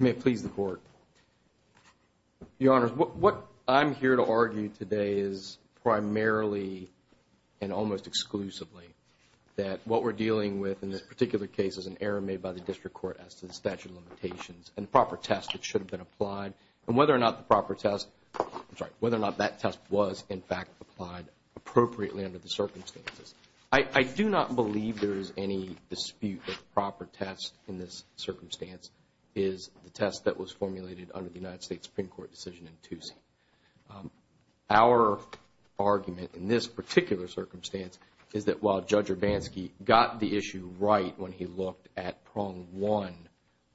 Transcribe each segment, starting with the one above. May it please the Court. Your Honor, what I'm here to argue today is primarily and almost exclusively that what we're dealing with in this particular case is an error made by the District Court as to the statute of limitations and the proper test that should have been applied and whether or not the proper test, I'm sorry, whether or not that test was in fact applied appropriately under the circumstances. I do not believe there is any dispute that the proper test in this circumstance is the test that was formulated under the United States Supreme Court decision in 2C. Our argument in this particular circumstance is that while Judge Urbanski got the issue right when he looked at prong one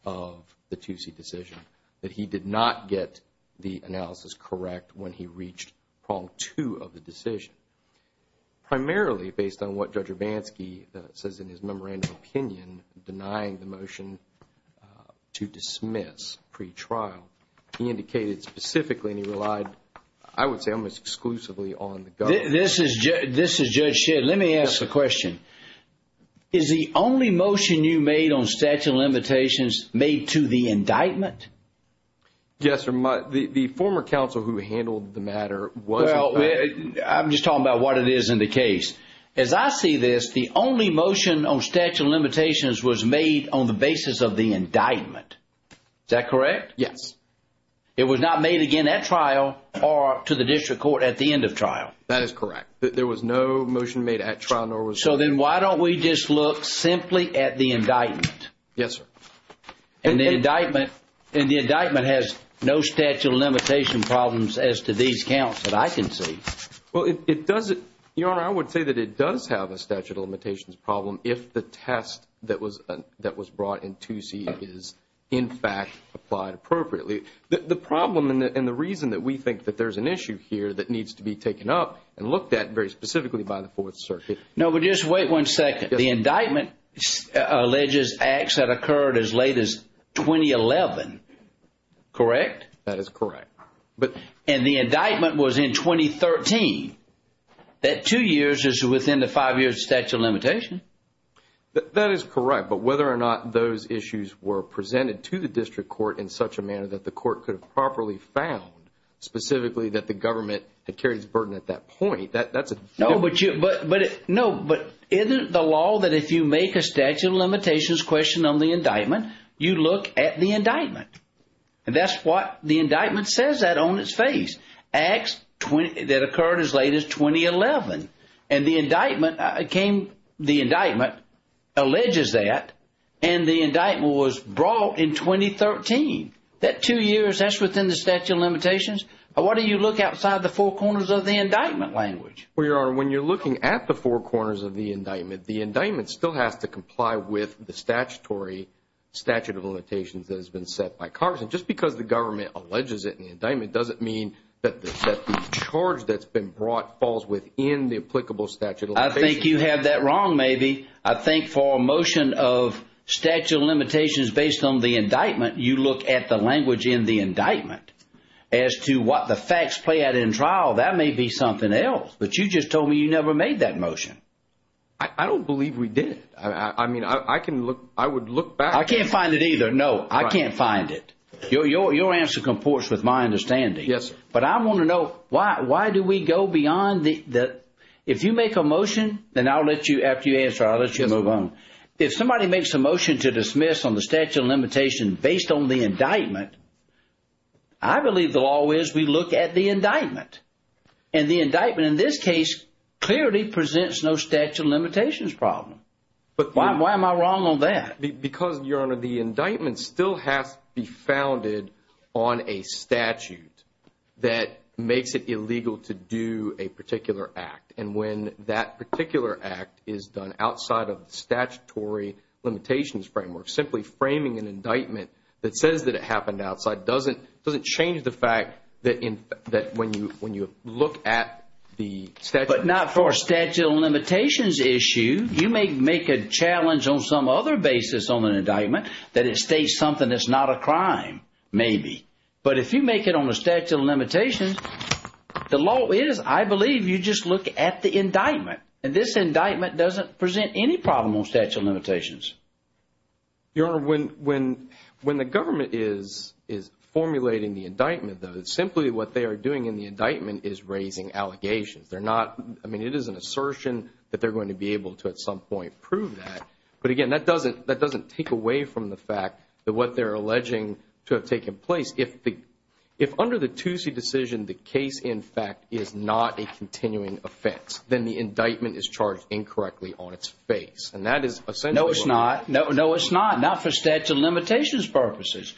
of the 2C decision, that he did not get the analysis correct when he reached an opinion denying the motion to dismiss pretrial. He indicated specifically and he relied I would say almost exclusively on the government. This is Judge Shedd. Let me ask the question. Is the only motion you made on statute of limitations made to the indictment? Yes, Your Honor. The former counsel who handled the matter was Well, I'm just talking about what it is in the case. As I see this the only motion on statute of limitations was made on the basis of the indictment. Is that correct? Yes. It was not made again at trial or to the district court at the end of trial. That is correct. There was no motion made at trial. So then why don't we just look simply at the indictment? Yes, sir. And the indictment has no statute of limitation problems as to these counts that I can see. Well, it doesn't. Your Honor, I would say that it does have a statute of limitations problem if the test that was brought in 2C is in fact applied appropriately. The problem and the reason that we think that there's an issue here that needs to be taken up and looked at very specifically by the Fourth Circuit. No, but just wait one second. The indictment alleges acts that occurred as late as 2011. Correct? That is correct. And the indictment was in 2013. That two years is within the five years of statute of limitation. That is correct, but whether or not those issues were presented to the district court in such a manner that the court could have properly found specifically that the government had carried its burden at that point, that's a different issue. No, but isn't the law that if you make a statute of limitations question on the indictment, you look at the indictment? And that's what the indictment says that on its face. Acts that occurred as late as 2011. And the indictment alleges that and the indictment was brought in 2013. That two years, that's within the statute of limitations. Why do you look outside the four corners of the indictment language? Well, Your Honor, when you're looking at the four corners of the indictment, the indictment still has to comply with the statutory statute of limitations that has been set by Congress. And just because the government alleges it in the indictment doesn't mean that the charge that's been brought falls within the applicable statute of limitations. I think you have that wrong, maybe. I think for a motion of statute of limitations based on the indictment, you look at the language in the indictment. As to what the facts play out in trial, that may be something else. But you just told me you never made that motion. I don't believe we did. I mean, I can look, I would look back. I can't find it either, no. I can't find it. Your answer comports with my understanding. But I want to know, why do we go beyond the if you make a motion, then I'll let you, after you answer, I'll let you move on. If somebody makes a motion to dismiss on the statute of limitations based on the indictment, I believe the law is we look at the indictment. And the indictment in this case clearly presents no statute of limitations problem. Why am I wrong on that? Because, Your Honor, the indictment still has to be founded on a statute that makes it illegal to do a particular act. And when that particular act is done outside of the statutory limitations framework, simply framing an indictment that says that it happened outside doesn't change the fact that when you look at the statute of limitations issue, you may make a challenge on some other basis on an indictment that it states something that's not a crime. Maybe. But if you make it on the statute of limitations, the law is, I believe, you just look at the indictment. And this indictment doesn't present any problem on statute of limitations. Your Honor, when the government is formulating the indictment, simply what they are doing in the indictment is raising allegations. They're not, I mean, it is an assertion that they're going to be able to at some point prove that. But again, that doesn't take away from the fact that what they're alleging to have taken place, if under the Toosie decision, the case, in fact, is not a continuing offense, then the indictment is charged incorrectly on its face. No, it's not. No, it's not. Not for statute of limitations purposes.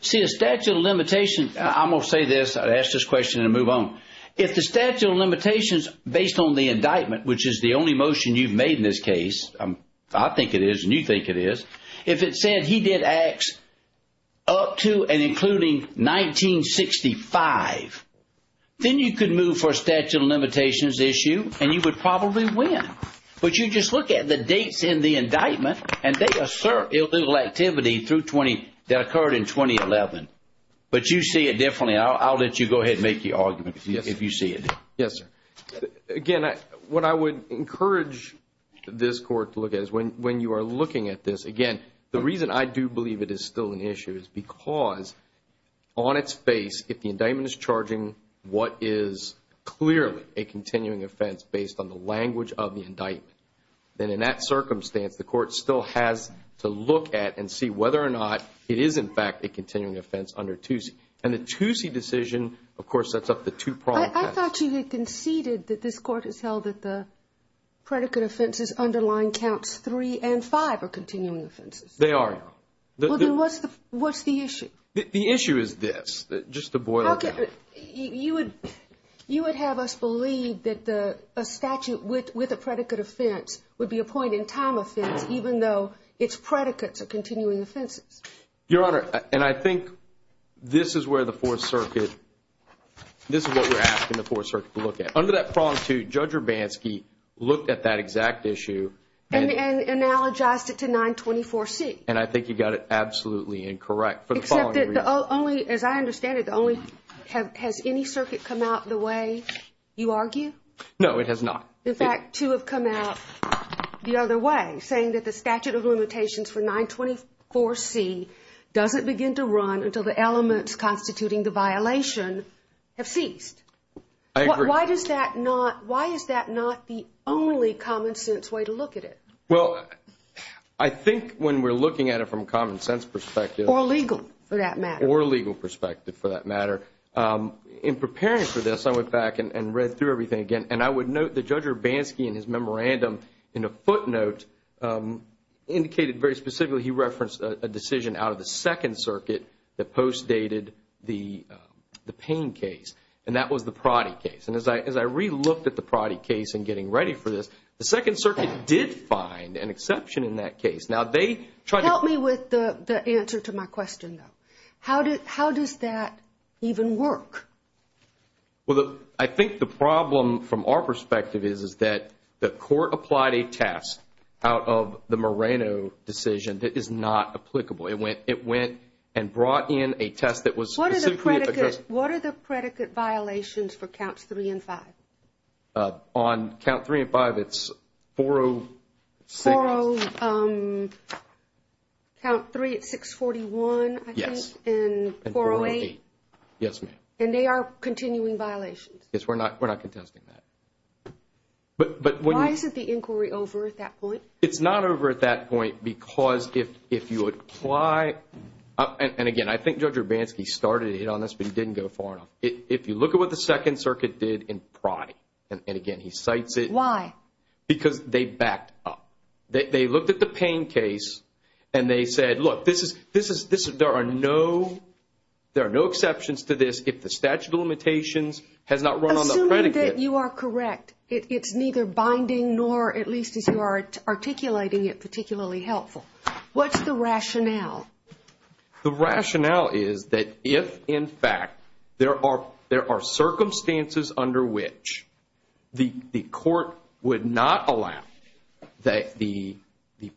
See, a statute of limitations, I'm going to say this, ask this question and then move on. If the statute of limitations, based on the indictment, which is the only motion you've made in this case, I think it is and you think it is, if it said he did acts up to and including 1965, then you could move for a statute of limitations issue and you would probably win. But you just look at the dates in the indictment and they assert illegal activity through 20, that occurred in 2011. But you see it differently. I'll let you go ahead and make the argument if you see it. Yes, sir. Again, what I would encourage this Court to look at is when you are looking at this, again, the reason I do believe it is still an issue is because on its face, if the indictment is charging what is clearly a continuing offense based on the language of the indictment, then in that circumstance, the Court still has to look at and see whether or not it is, in fact, a continuing offense under Toosie. And the Toosie decision of course sets up the two pronged facts. I thought you had conceded that this Court has held that the predicate offenses underlying counts 3 and 5 are continuing offenses. They are. Well, then what's the issue? The issue is this, just to boil it down. You would have us believe that a statute with a predicate offense would be a point in time offense even though its Your Honor, and I think this is where the Fourth Circuit this is what we are asking the Fourth Circuit to look at. Under that prong 2, Judge Urbanski looked at that exact issue and analogized it to 924C. And I think you got it absolutely incorrect. Except that the only, as I understand it, the only, has any circuit come out the way you argue? No, it has not. In fact, two have come out the other way, saying that the statute of limitations for 924C doesn't begin to run until the elements constituting the violation have ceased. I agree. Why is that not the only common sense way to look at it? Well, I think when we are looking at it from common sense perspective. Or legal, for that matter. Or legal perspective, for that matter. In preparing for this, I went back and read through everything again. And I would note that Judge Urbanski in his memorandum, in a footnote indicated very specifically, he referenced a decision out of the Second Circuit that post-dated the Payne case. And that was the Proddy case. And as I re-looked at the Proddy case in getting ready for this, the Second Circuit did find an exception in that case. Help me with the answer to my question, though. How does that even work? Well, I think the problem from our perspective is that the court applied a test out of the Moreno decision that is not applicable. It went and brought in a test that was specifically... What are the predicate violations for Counts 3 and 5? On Count 3 and 5, it's 406. 40... Count 3 at 641, I think. Yes. And 408. Yes, ma'am. And they are continuing violations. Yes, we're not contesting that. Why isn't the inquiry over at that point? It's not over at that point because if you apply... And again, I think Judge Urbanski started it on this, but he didn't go far enough. If you look at what the Second Circuit did in Proddy, and again, he cites it. Why? Because they backed up. They looked at the Payne case, and they said, look, there are no exceptions to this if the statute of limitations has not run on the predicate. Assuming that you are correct, it's neither binding nor, at least as you are articulating it, particularly helpful. What's the rationale? The rationale is that if, in fact, there are circumstances under which the court would not allow the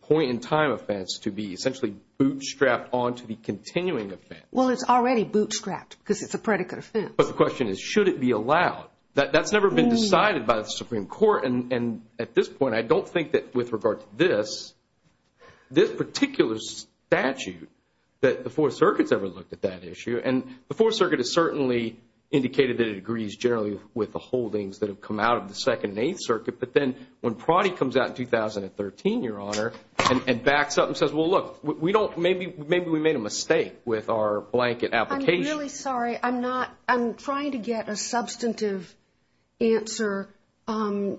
point-in-time offense to be essentially bootstrapped onto the continuing offense... Well, it's already bootstrapped because it's a predicate offense. But the question is, should it be allowed? That's never been decided by the Supreme Court, and at this point, I don't think that with regard to this, this particular statute that the Fourth Circuit's ever looked at that issue, and the Fourth Circuit has certainly indicated that it agrees generally with the holdings that have come out of the Second and Eighth Circuit, but then when Proddy comes out in 2013, Your Honor, and backs up and says, well, look, maybe we made a mistake with our blanket application... I'm really sorry. I'm not... I'm trying to get a substantive answer in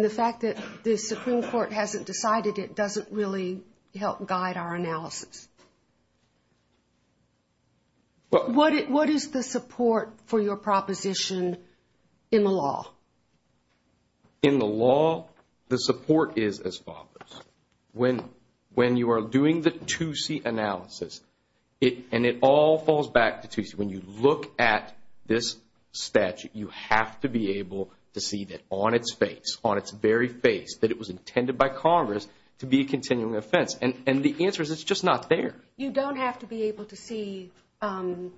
the fact that the Supreme Court hasn't decided it doesn't really help guide our analysis. What is the support for your proposition in the law? In the law, the support is as follows. When you are doing the and it all falls back to, when you look at this statute, you have to be able to see that on its face, on its very face, that it was intended by Congress to be a continuing offense. And the answer is, it's just not there. You don't have to be able to see on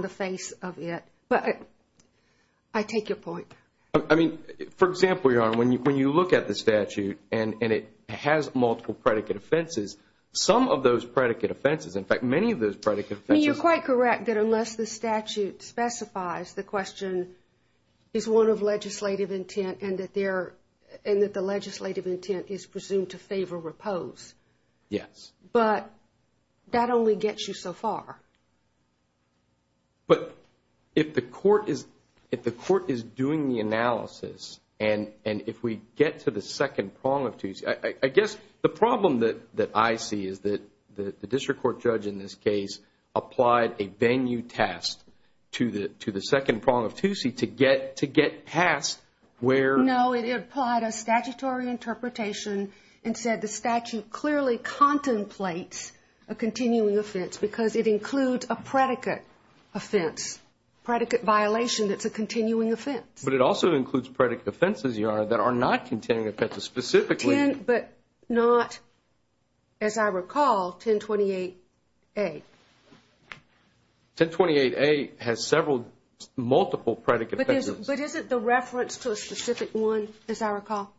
the face of it, but I take your point. I mean, for example, Your Honor, when you look at the statute, and it has multiple predicate offenses, some of those predicate offenses, in fact, many of those predicate offenses... I mean, you're quite correct that unless the statute specifies the question is one of legislative intent and that the legislative intent is presumed to favor repose. Yes. But that only gets you so far. But if the court is doing the analysis and if we get to the second prong of Tuesday... I guess the problem that I see is that the district court judge in this case applied a venue test to the second prong of Tuesday to get past where... No, it applied a statutory interpretation and said the statute clearly contemplates a continuing offense because it includes a predicate offense, predicate violation that's a continuing offense. But it also includes predicate offenses, Your Honor, that are not continuing offenses, that are not, as I recall, 1028A. 1028A has several multiple predicate offenses. But isn't the reference to a specific one, as I recall?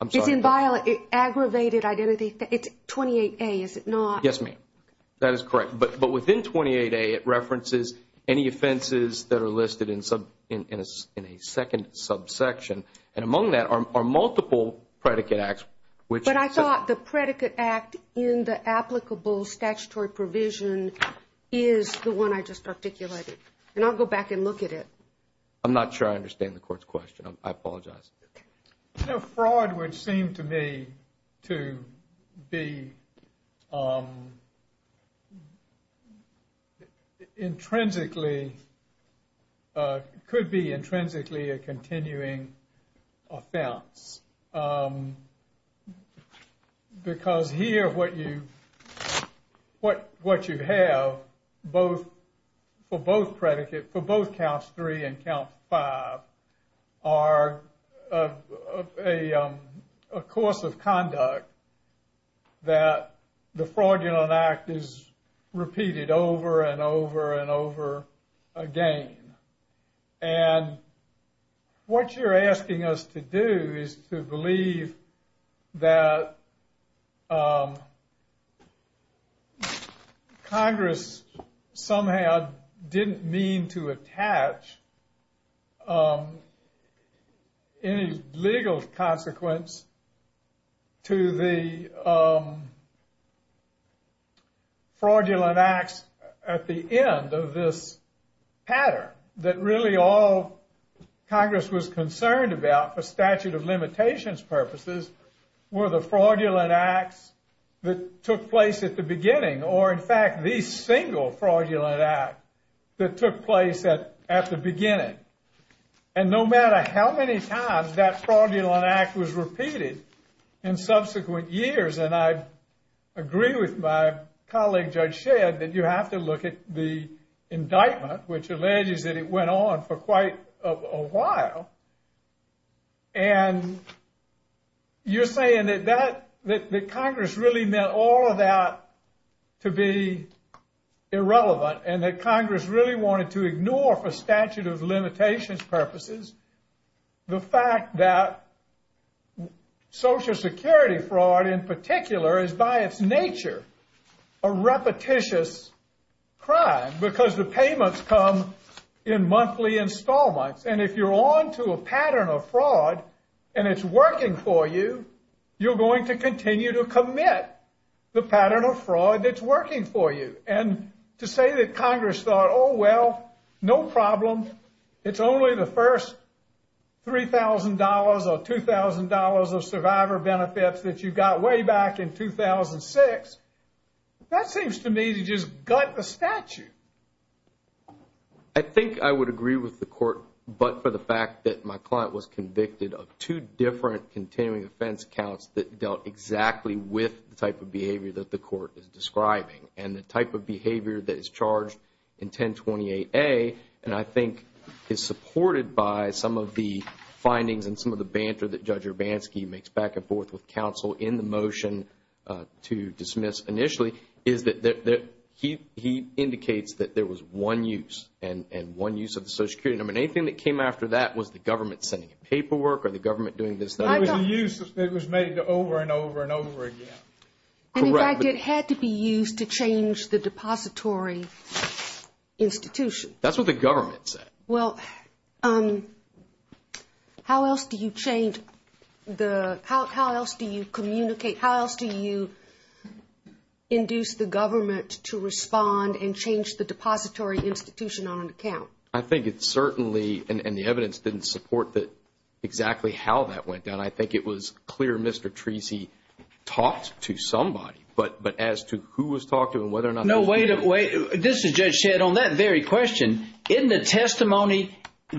I'm sorry. It's in violated, aggravated identity. It's 28A, is it not? Yes, ma'am. That is correct. But within 28A, it references any offenses that are listed in a second subsection. And among that are multiple predicate acts, which... But I thought the predicate act in the applicable statutory provision is the one I just articulated. And I'll go back and look at it. I'm not sure I understand the court's question. I apologize. You know, fraud would seem to me to be intrinsically... could be intrinsically a continuing offense. Because here what you have for both counts three and count five are a course of conduct that the fraudulent act is repeated over and over and over again. And what you're asking us to do is to believe that Congress somehow didn't mean to attach any legal consequence to the fraudulent acts at the end of this pattern. That really all Congress was concerned about for statute of limitations purposes were the fraudulent acts that took place at the beginning or in fact the single fraudulent act that took place at the beginning. And no matter how many times that fraudulent act was repeated in subsequent years, and I agree with my colleague Judge Shedd that you have to look at the indictment, which alleges that it went on for quite a while, and you're saying that Congress really meant all of that to be irrelevant and that Congress really wanted to ignore for statute of limitations purposes the fact that Social Security fraud in particular is by its nature a repetitious crime because the payments come in monthly installments and if you're on to a pattern of fraud and it's working for you, you're going to continue to commit the pattern of fraud that's working for you. And to say that Congress thought, oh well, no problem, it's only the first $3,000 or $2,000 of survivor benefits that you got way back in 2006, that seems to me to just gut the statute. I think I would agree with the Court but for the fact that my client was convicted of two different continuing offense counts that dealt exactly with the type of behavior that the Court is describing and the type of behavior that is charged in 1028A and I think is supported by some of the findings and some of the banter that Judge Urbanski makes back and forth with counsel in the motion to dismiss initially is that he indicates that there was one use and one use of the Social Security number. Anything that came after that was the government sending paperwork or the government doing this? It was made over and over and over again. And in fact it had to be used to change the depository institution. That's what the government said. Well, how else do you communicate? How else do you induce the government to respond and change the depository institution on an account? I think it certainly, and the evidence didn't support exactly how that went down. I think it was clear Mr. Treacy talked to somebody but as to who was talking and whether or not... No, wait a minute. This is Judge Shedd. On that very question, in the testimony from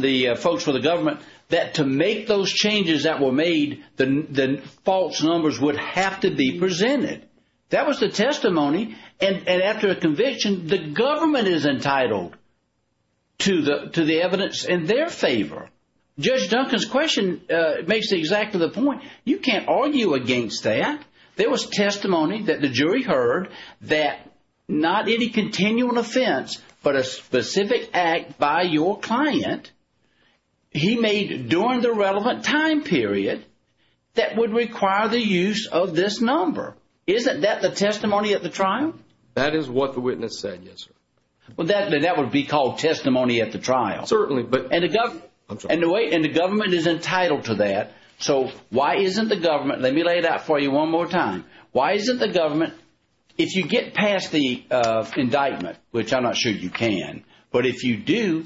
the folks for the government that to make those changes that were made, the false numbers would have to be presented. That was the testimony and after a conviction, the government is entitled to the evidence in their favor. Judge Duncan's question makes exactly the point. You can't argue against that. There was testimony that the jury heard that not any continual offense but a specific act by your client he made during the relevant time period that would require the use of this number. Isn't that the testimony at the trial? That is what the witness said, yes sir. That would be called testimony at the trial. Certainly. And the government is entitled to that. So why isn't the government, let me lay it out for you one more time, why isn't the government if you get past the indictment, which I'm not sure you can, but if you do,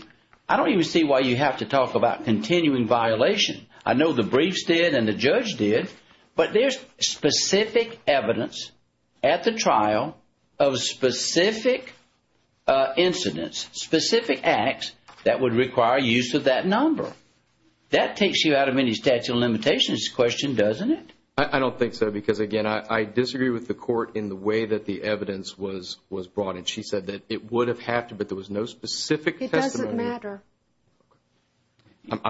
I don't even see why you have to talk about continuing violation. I know the briefs did and the judge did, but there's specific evidence at the trial of specific incidents, specific acts that would require use of that number. That takes you out of any statute of limitations question, doesn't it? I don't think so because again I disagree with the court in the way that the evidence was brought in. She said that it would have had to, but there was no specific testimony. It doesn't matter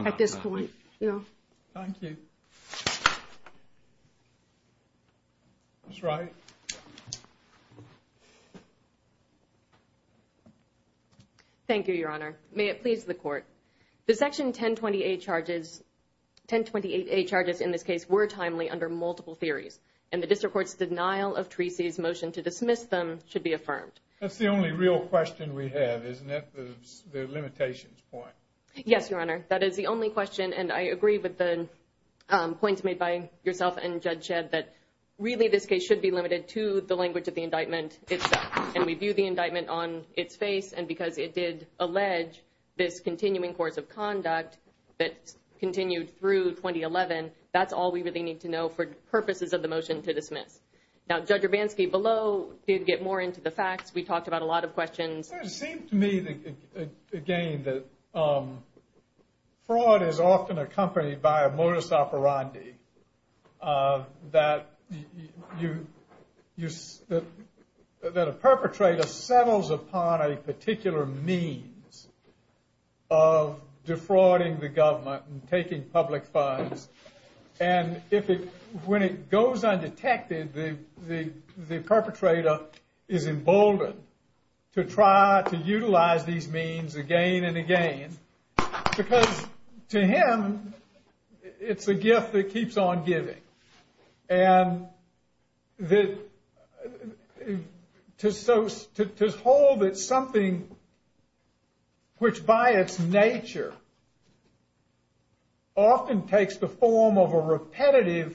at this point. Thank you. Ms. Wright. Thank you, your honor. May it please the court. The section 1028A charges in this case were timely under multiple theories and the district court's denial of Treacy's motion to dismiss them should be affirmed. That's the only real question we have, isn't it? The limitations point. Yes, your honor. That is the only question and I agree with the points made by yourself and Judge Shedd that really this case should be limited to the language of the indictment itself and we view the indictment on its face and because it did allege this continuing course of conduct that continued through 2011, that's all we really need to know for purposes of the motion to dismiss. Now Judge Urbanski below did get more into the facts. We talked about a lot of questions. It seems to me again that fraud is often accompanied by a modus operandi that a perpetrator settles upon a particular means of defrauding the government and taking public funds and if it goes undetected the perpetrator is emboldened to try to utilize these means again and again because to him it's a gift that keeps on giving and to hold that something which by its nature often takes the form of a repetitive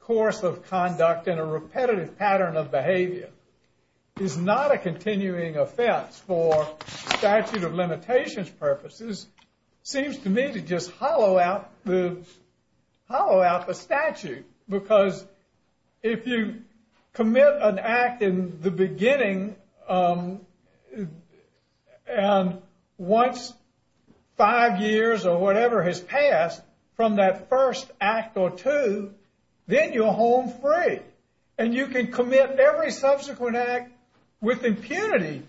course of conduct and a repetitive pattern of behavior is not a continuing offense for statute of limitations purposes seems to me to just hollow out the statute because if you commit an act in the beginning and once five years or whatever has passed from that first act or two then you're home free and you can commit every subsequent act with impunity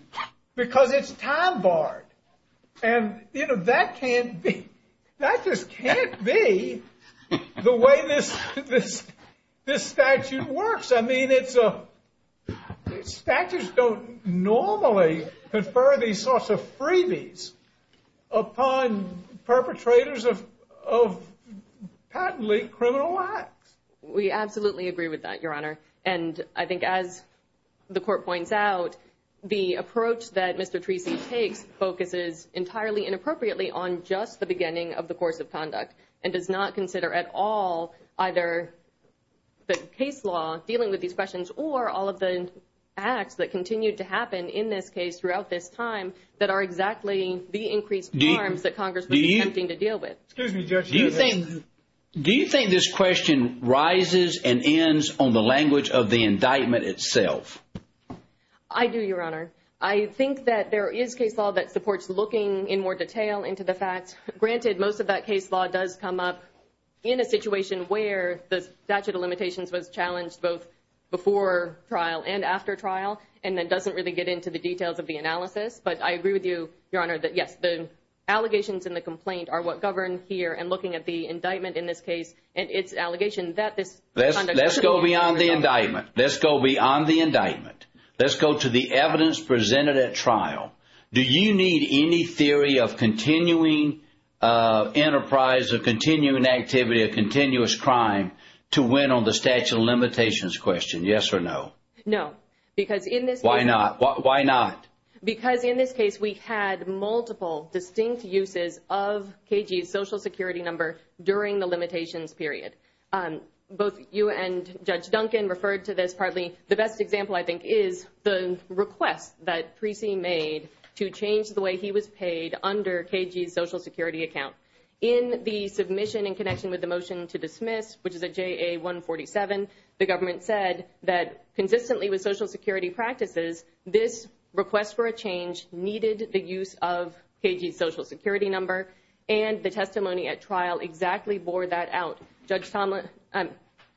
because it's time barred and that can't be, that just can't be the way this statute works I mean it's a, statutes don't normally confer these sorts of freebies upon perpetrators of patently criminal acts. We absolutely agree with that your honor and I think as the court points out the approach that Mr. Treacy takes focuses entirely inappropriately on just the beginning of the course of conduct and does not consider at all either the case law dealing with these questions or all of the acts that continue to happen in this case throughout this time that are exactly the increased harms that Congress would be attempting to deal with. Do you think this question rises and ends on the language of the indictment itself? I do your honor. I think that there is case law that supports looking in more detail into the facts. Granted most of that case law does come up in a situation where the statute of limitations was challenged both before trial and after trial and that doesn't really get into the details of the indictment your honor. Yes the allegations in the complaint are what govern here and looking at the indictment in this case and it's allegation that this Let's go beyond the indictment. Let's go beyond the indictment. Let's go to the evidence presented at trial. Do you need any theory of continuing enterprise of continuing activity of continuous crime to win on the statute of limitations question? Yes or no? No. Because in this case. Why not? Why not? Because in this case we had multiple distinct uses of KG's social security number during the limitations period. Both you and Judge Duncan referred to this partly the best example I think is the request that Precy made to change the way he was paid under KG's social security account. In the submission in connection with the motion to dismiss which is a JA 147 the government said that consistently with social security practices this request for a change needed the use of KG's social security number and the testimony at trial exactly bore that out. Judge Tomlin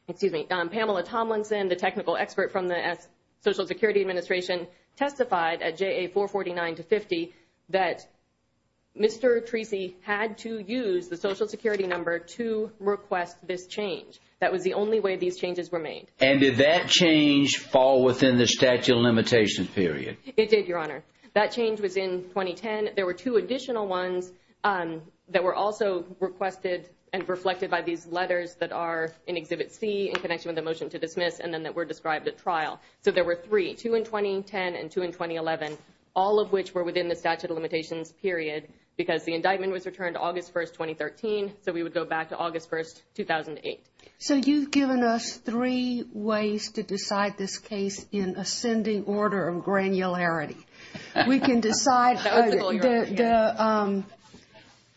excuse me Pamela Tomlinson the technical expert from the social security administration testified at JA 449 to 50 that Mr. Precy had to use the social security number to request this change. That was the only way these changes were made. And did that change fall within the statute of limitations period? It did Your Honor. That change was in 2010. There were two additional ones that were also requested and reflected by these letters that are in Exhibit C in connection with the motion to dismiss and then that were described at trial. So there were three, two in 2010 and two in 2011 all of which were within the statute of limitations period because the indictment was returned August 1st 2013 so we would go back to August 1st 2008. So you've given us three ways to decide this case in ascending order of granularity. We can decide the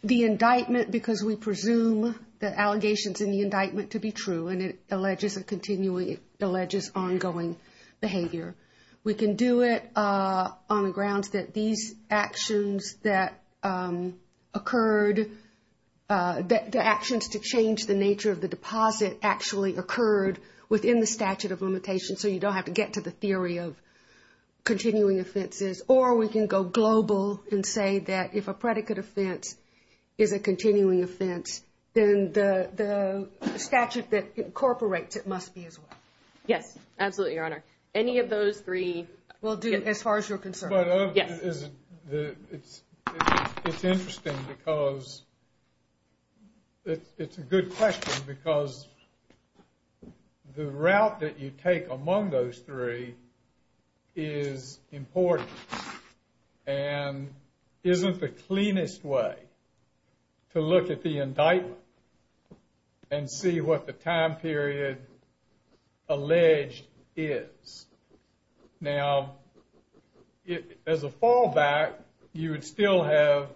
indictment because we presume the allegations in the indictment to be true and it alleges a continuing, it alleges ongoing behavior. We can do it on the grounds that these actions that occurred, the actions to change the nature of the deposit actually occurred within the statute of limitations so you don't have to get to the theory of continuing offenses or we can go global and say that if a predicate offense is a continuing offense then the statute that incorporates it must be as well. Yes, absolutely Your Honor. Any of those three? As far as you're concerned. It's interesting because it's a good question because the route that you take among those three is important and isn't the cleanest way to look at the indictment and see what the time period alleged is. Now, as a fallback you would still have,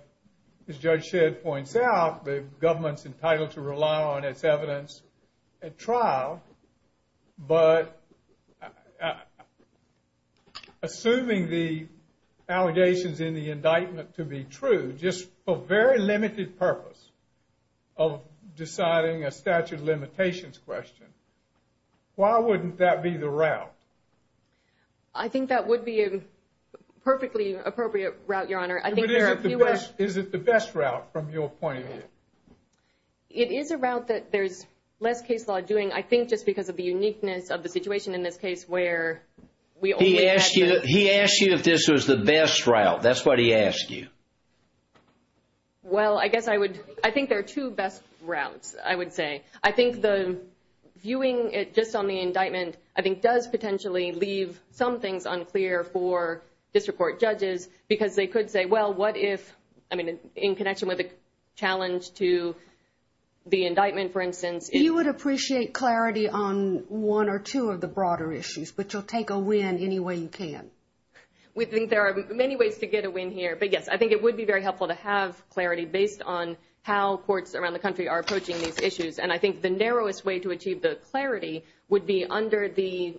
as Judge Shedd points out, the government's entitled to rely on its evidence at trial but assuming the allegations in the indictment to be true just for very limited purpose of deciding a statute of limitations question, why wouldn't that be the route? I think that would be a perfectly appropriate route, Your Honor. Is it the best route from your point of view? It is a route that there's less case law doing, I think just because of the uniqueness of the situation in this case where we only had... He asked you if this was the best route. That's what he asked you. Well, I guess I would, I think there are two best routes, I would say. I think the indictment, I think, does potentially leave some things unclear for district court judges because they could say, well, what if, I mean in connection with the challenge to the indictment, for instance... You would appreciate clarity on one or two of the broader issues, but you'll take a win any way you can. We think there are many ways to get a win here, but yes, I think it would be very helpful to have clarity based on how courts around the country are approaching these issues and I think the narrowest way to achieve the clarity would be under the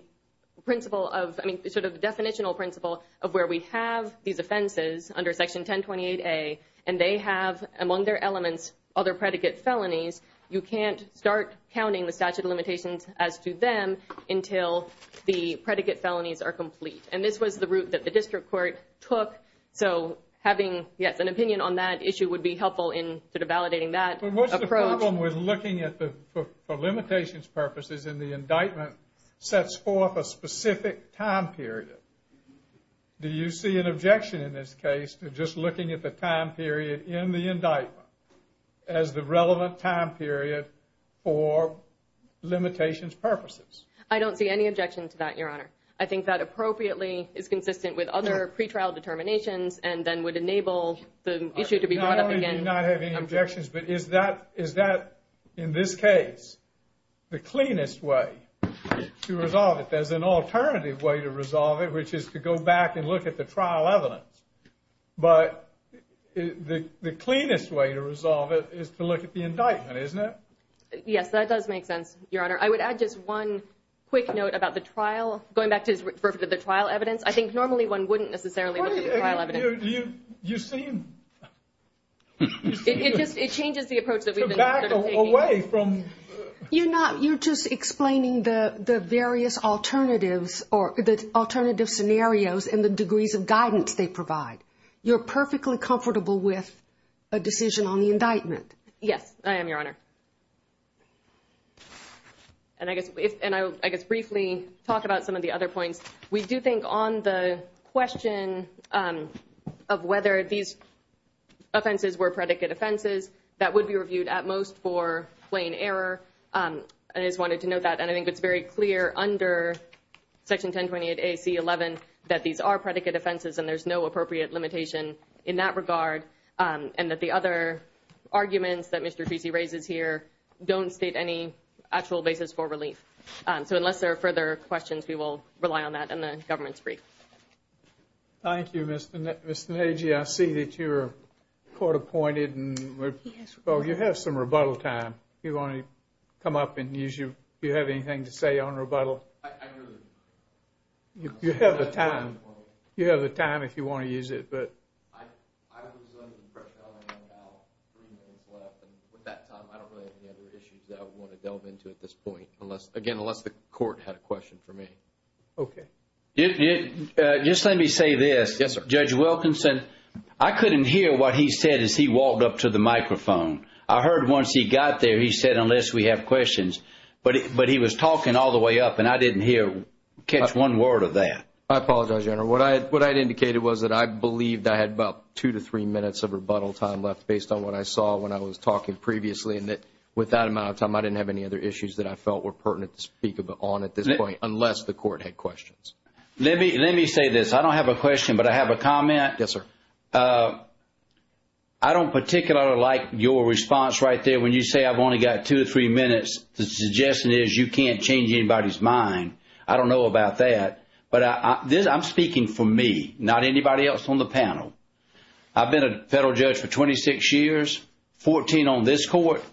principle of, I mean, sort of the definitional principle of where we have these offenses under Section 1028A and they have among their elements other predicate felonies, you can't start counting the statute of limitations as to them until the predicate felonies are complete and this was the route that the district court took, so having an opinion on that issue would be helpful in validating that approach. What's the problem with looking for limitations purposes and the indictment sets forth a specific time period? Do you see an objection in this case to just looking at the time period in the indictment as the relevant time period for limitations purposes? I don't see any objection to that, Your Honor. I think that appropriately is consistent with other pretrial determinations and then would enable the issue to be brought up. Is that, in this case, the cleanest way to resolve it? There's an alternative way to resolve it, which is to go back and look at the trial evidence, but the cleanest way to resolve it is to look at the indictment, isn't it? Yes, that does make sense, Your Honor. I would add just one quick note about the trial, going back to the trial evidence, I think normally one wouldn't necessarily look at the trial evidence. You seem... It changes the approach that we've been taking. You're just explaining the various alternatives or the alternative scenarios and the degrees of guidance they provide. You're perfectly comfortable with a decision on the indictment. Yes, I am, Your Honor. And I guess briefly talk about some of the other points. We do think on the question of whether these offenses were predicate offenses, that would be reviewed at most for plain error. I just wanted to note that, and I think it's very clear under Section 1028 AC-11 that these are predicate offenses and there's no appropriate limitation in that regard and that the other arguments that Mr. Feecy raises here don't state any actual basis for relief. So unless there are further questions, we will Thank you, Mr. Nagey. I see that you're court-appointed and you have some rebuttal time. Do you want to come up and use your... Do you have anything to say on rebuttal? I really... You have the time. You have the time if you want to use it, but... I was under pressure on my own about three minutes left, and with that time I don't really have any other issues that I want to delve into at this point, again, unless the court had a question for me. Okay. Just let me say this. Yes, sir. Judge Wilkinson, I couldn't hear what he said as he walked up to the microphone. I heard once he got there, he said, unless we have questions, but he was talking all the way up and I didn't hear... catch one word of that. I apologize, Your Honor. What I had indicated was that I believed I had about two to three minutes of rebuttal time left based on what I saw when I was talking previously and that with that amount of time I didn't have any other issues that I felt were pertinent to speak on at this point unless the court had questions. Let me say this. I don't have a question, but I have a comment. Yes, sir. I don't particularly like your response right there when you say I've only got two to three minutes. The suggestion is you can't change anybody's mind. I don't know about that, but I'm speaking for me, not anybody else on the panel. I've been a federal judge for 26 years, 14 on this court.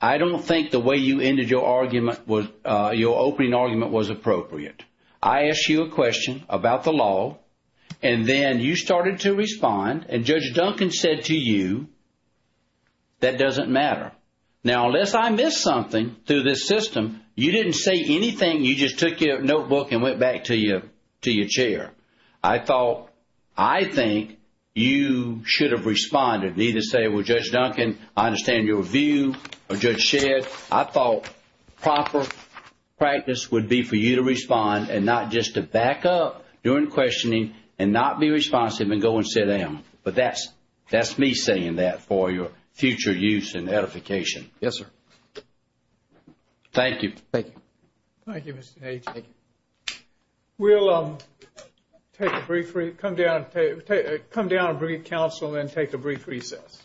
I don't think the way you opened your argument was appropriate. I asked you a question about the law and then you started to respond and Judge Duncan said to you, that doesn't matter. Now, unless I missed something through this system, you didn't say anything. You just took your notebook and went back to your chair. I thought, I think you should have responded. You need to say, well, Judge Duncan, I understand your view of Judge Shedd. I thought proper practice would be for you to respond and not just to back up during questioning and not be responsive and go and sit down. But that's me saying that for your future use and edification. Yes, sir. Thank you. Thank you. Thank you, Mr. H. We'll take a brief come down and bring a counsel and then take a brief recess. Thank you.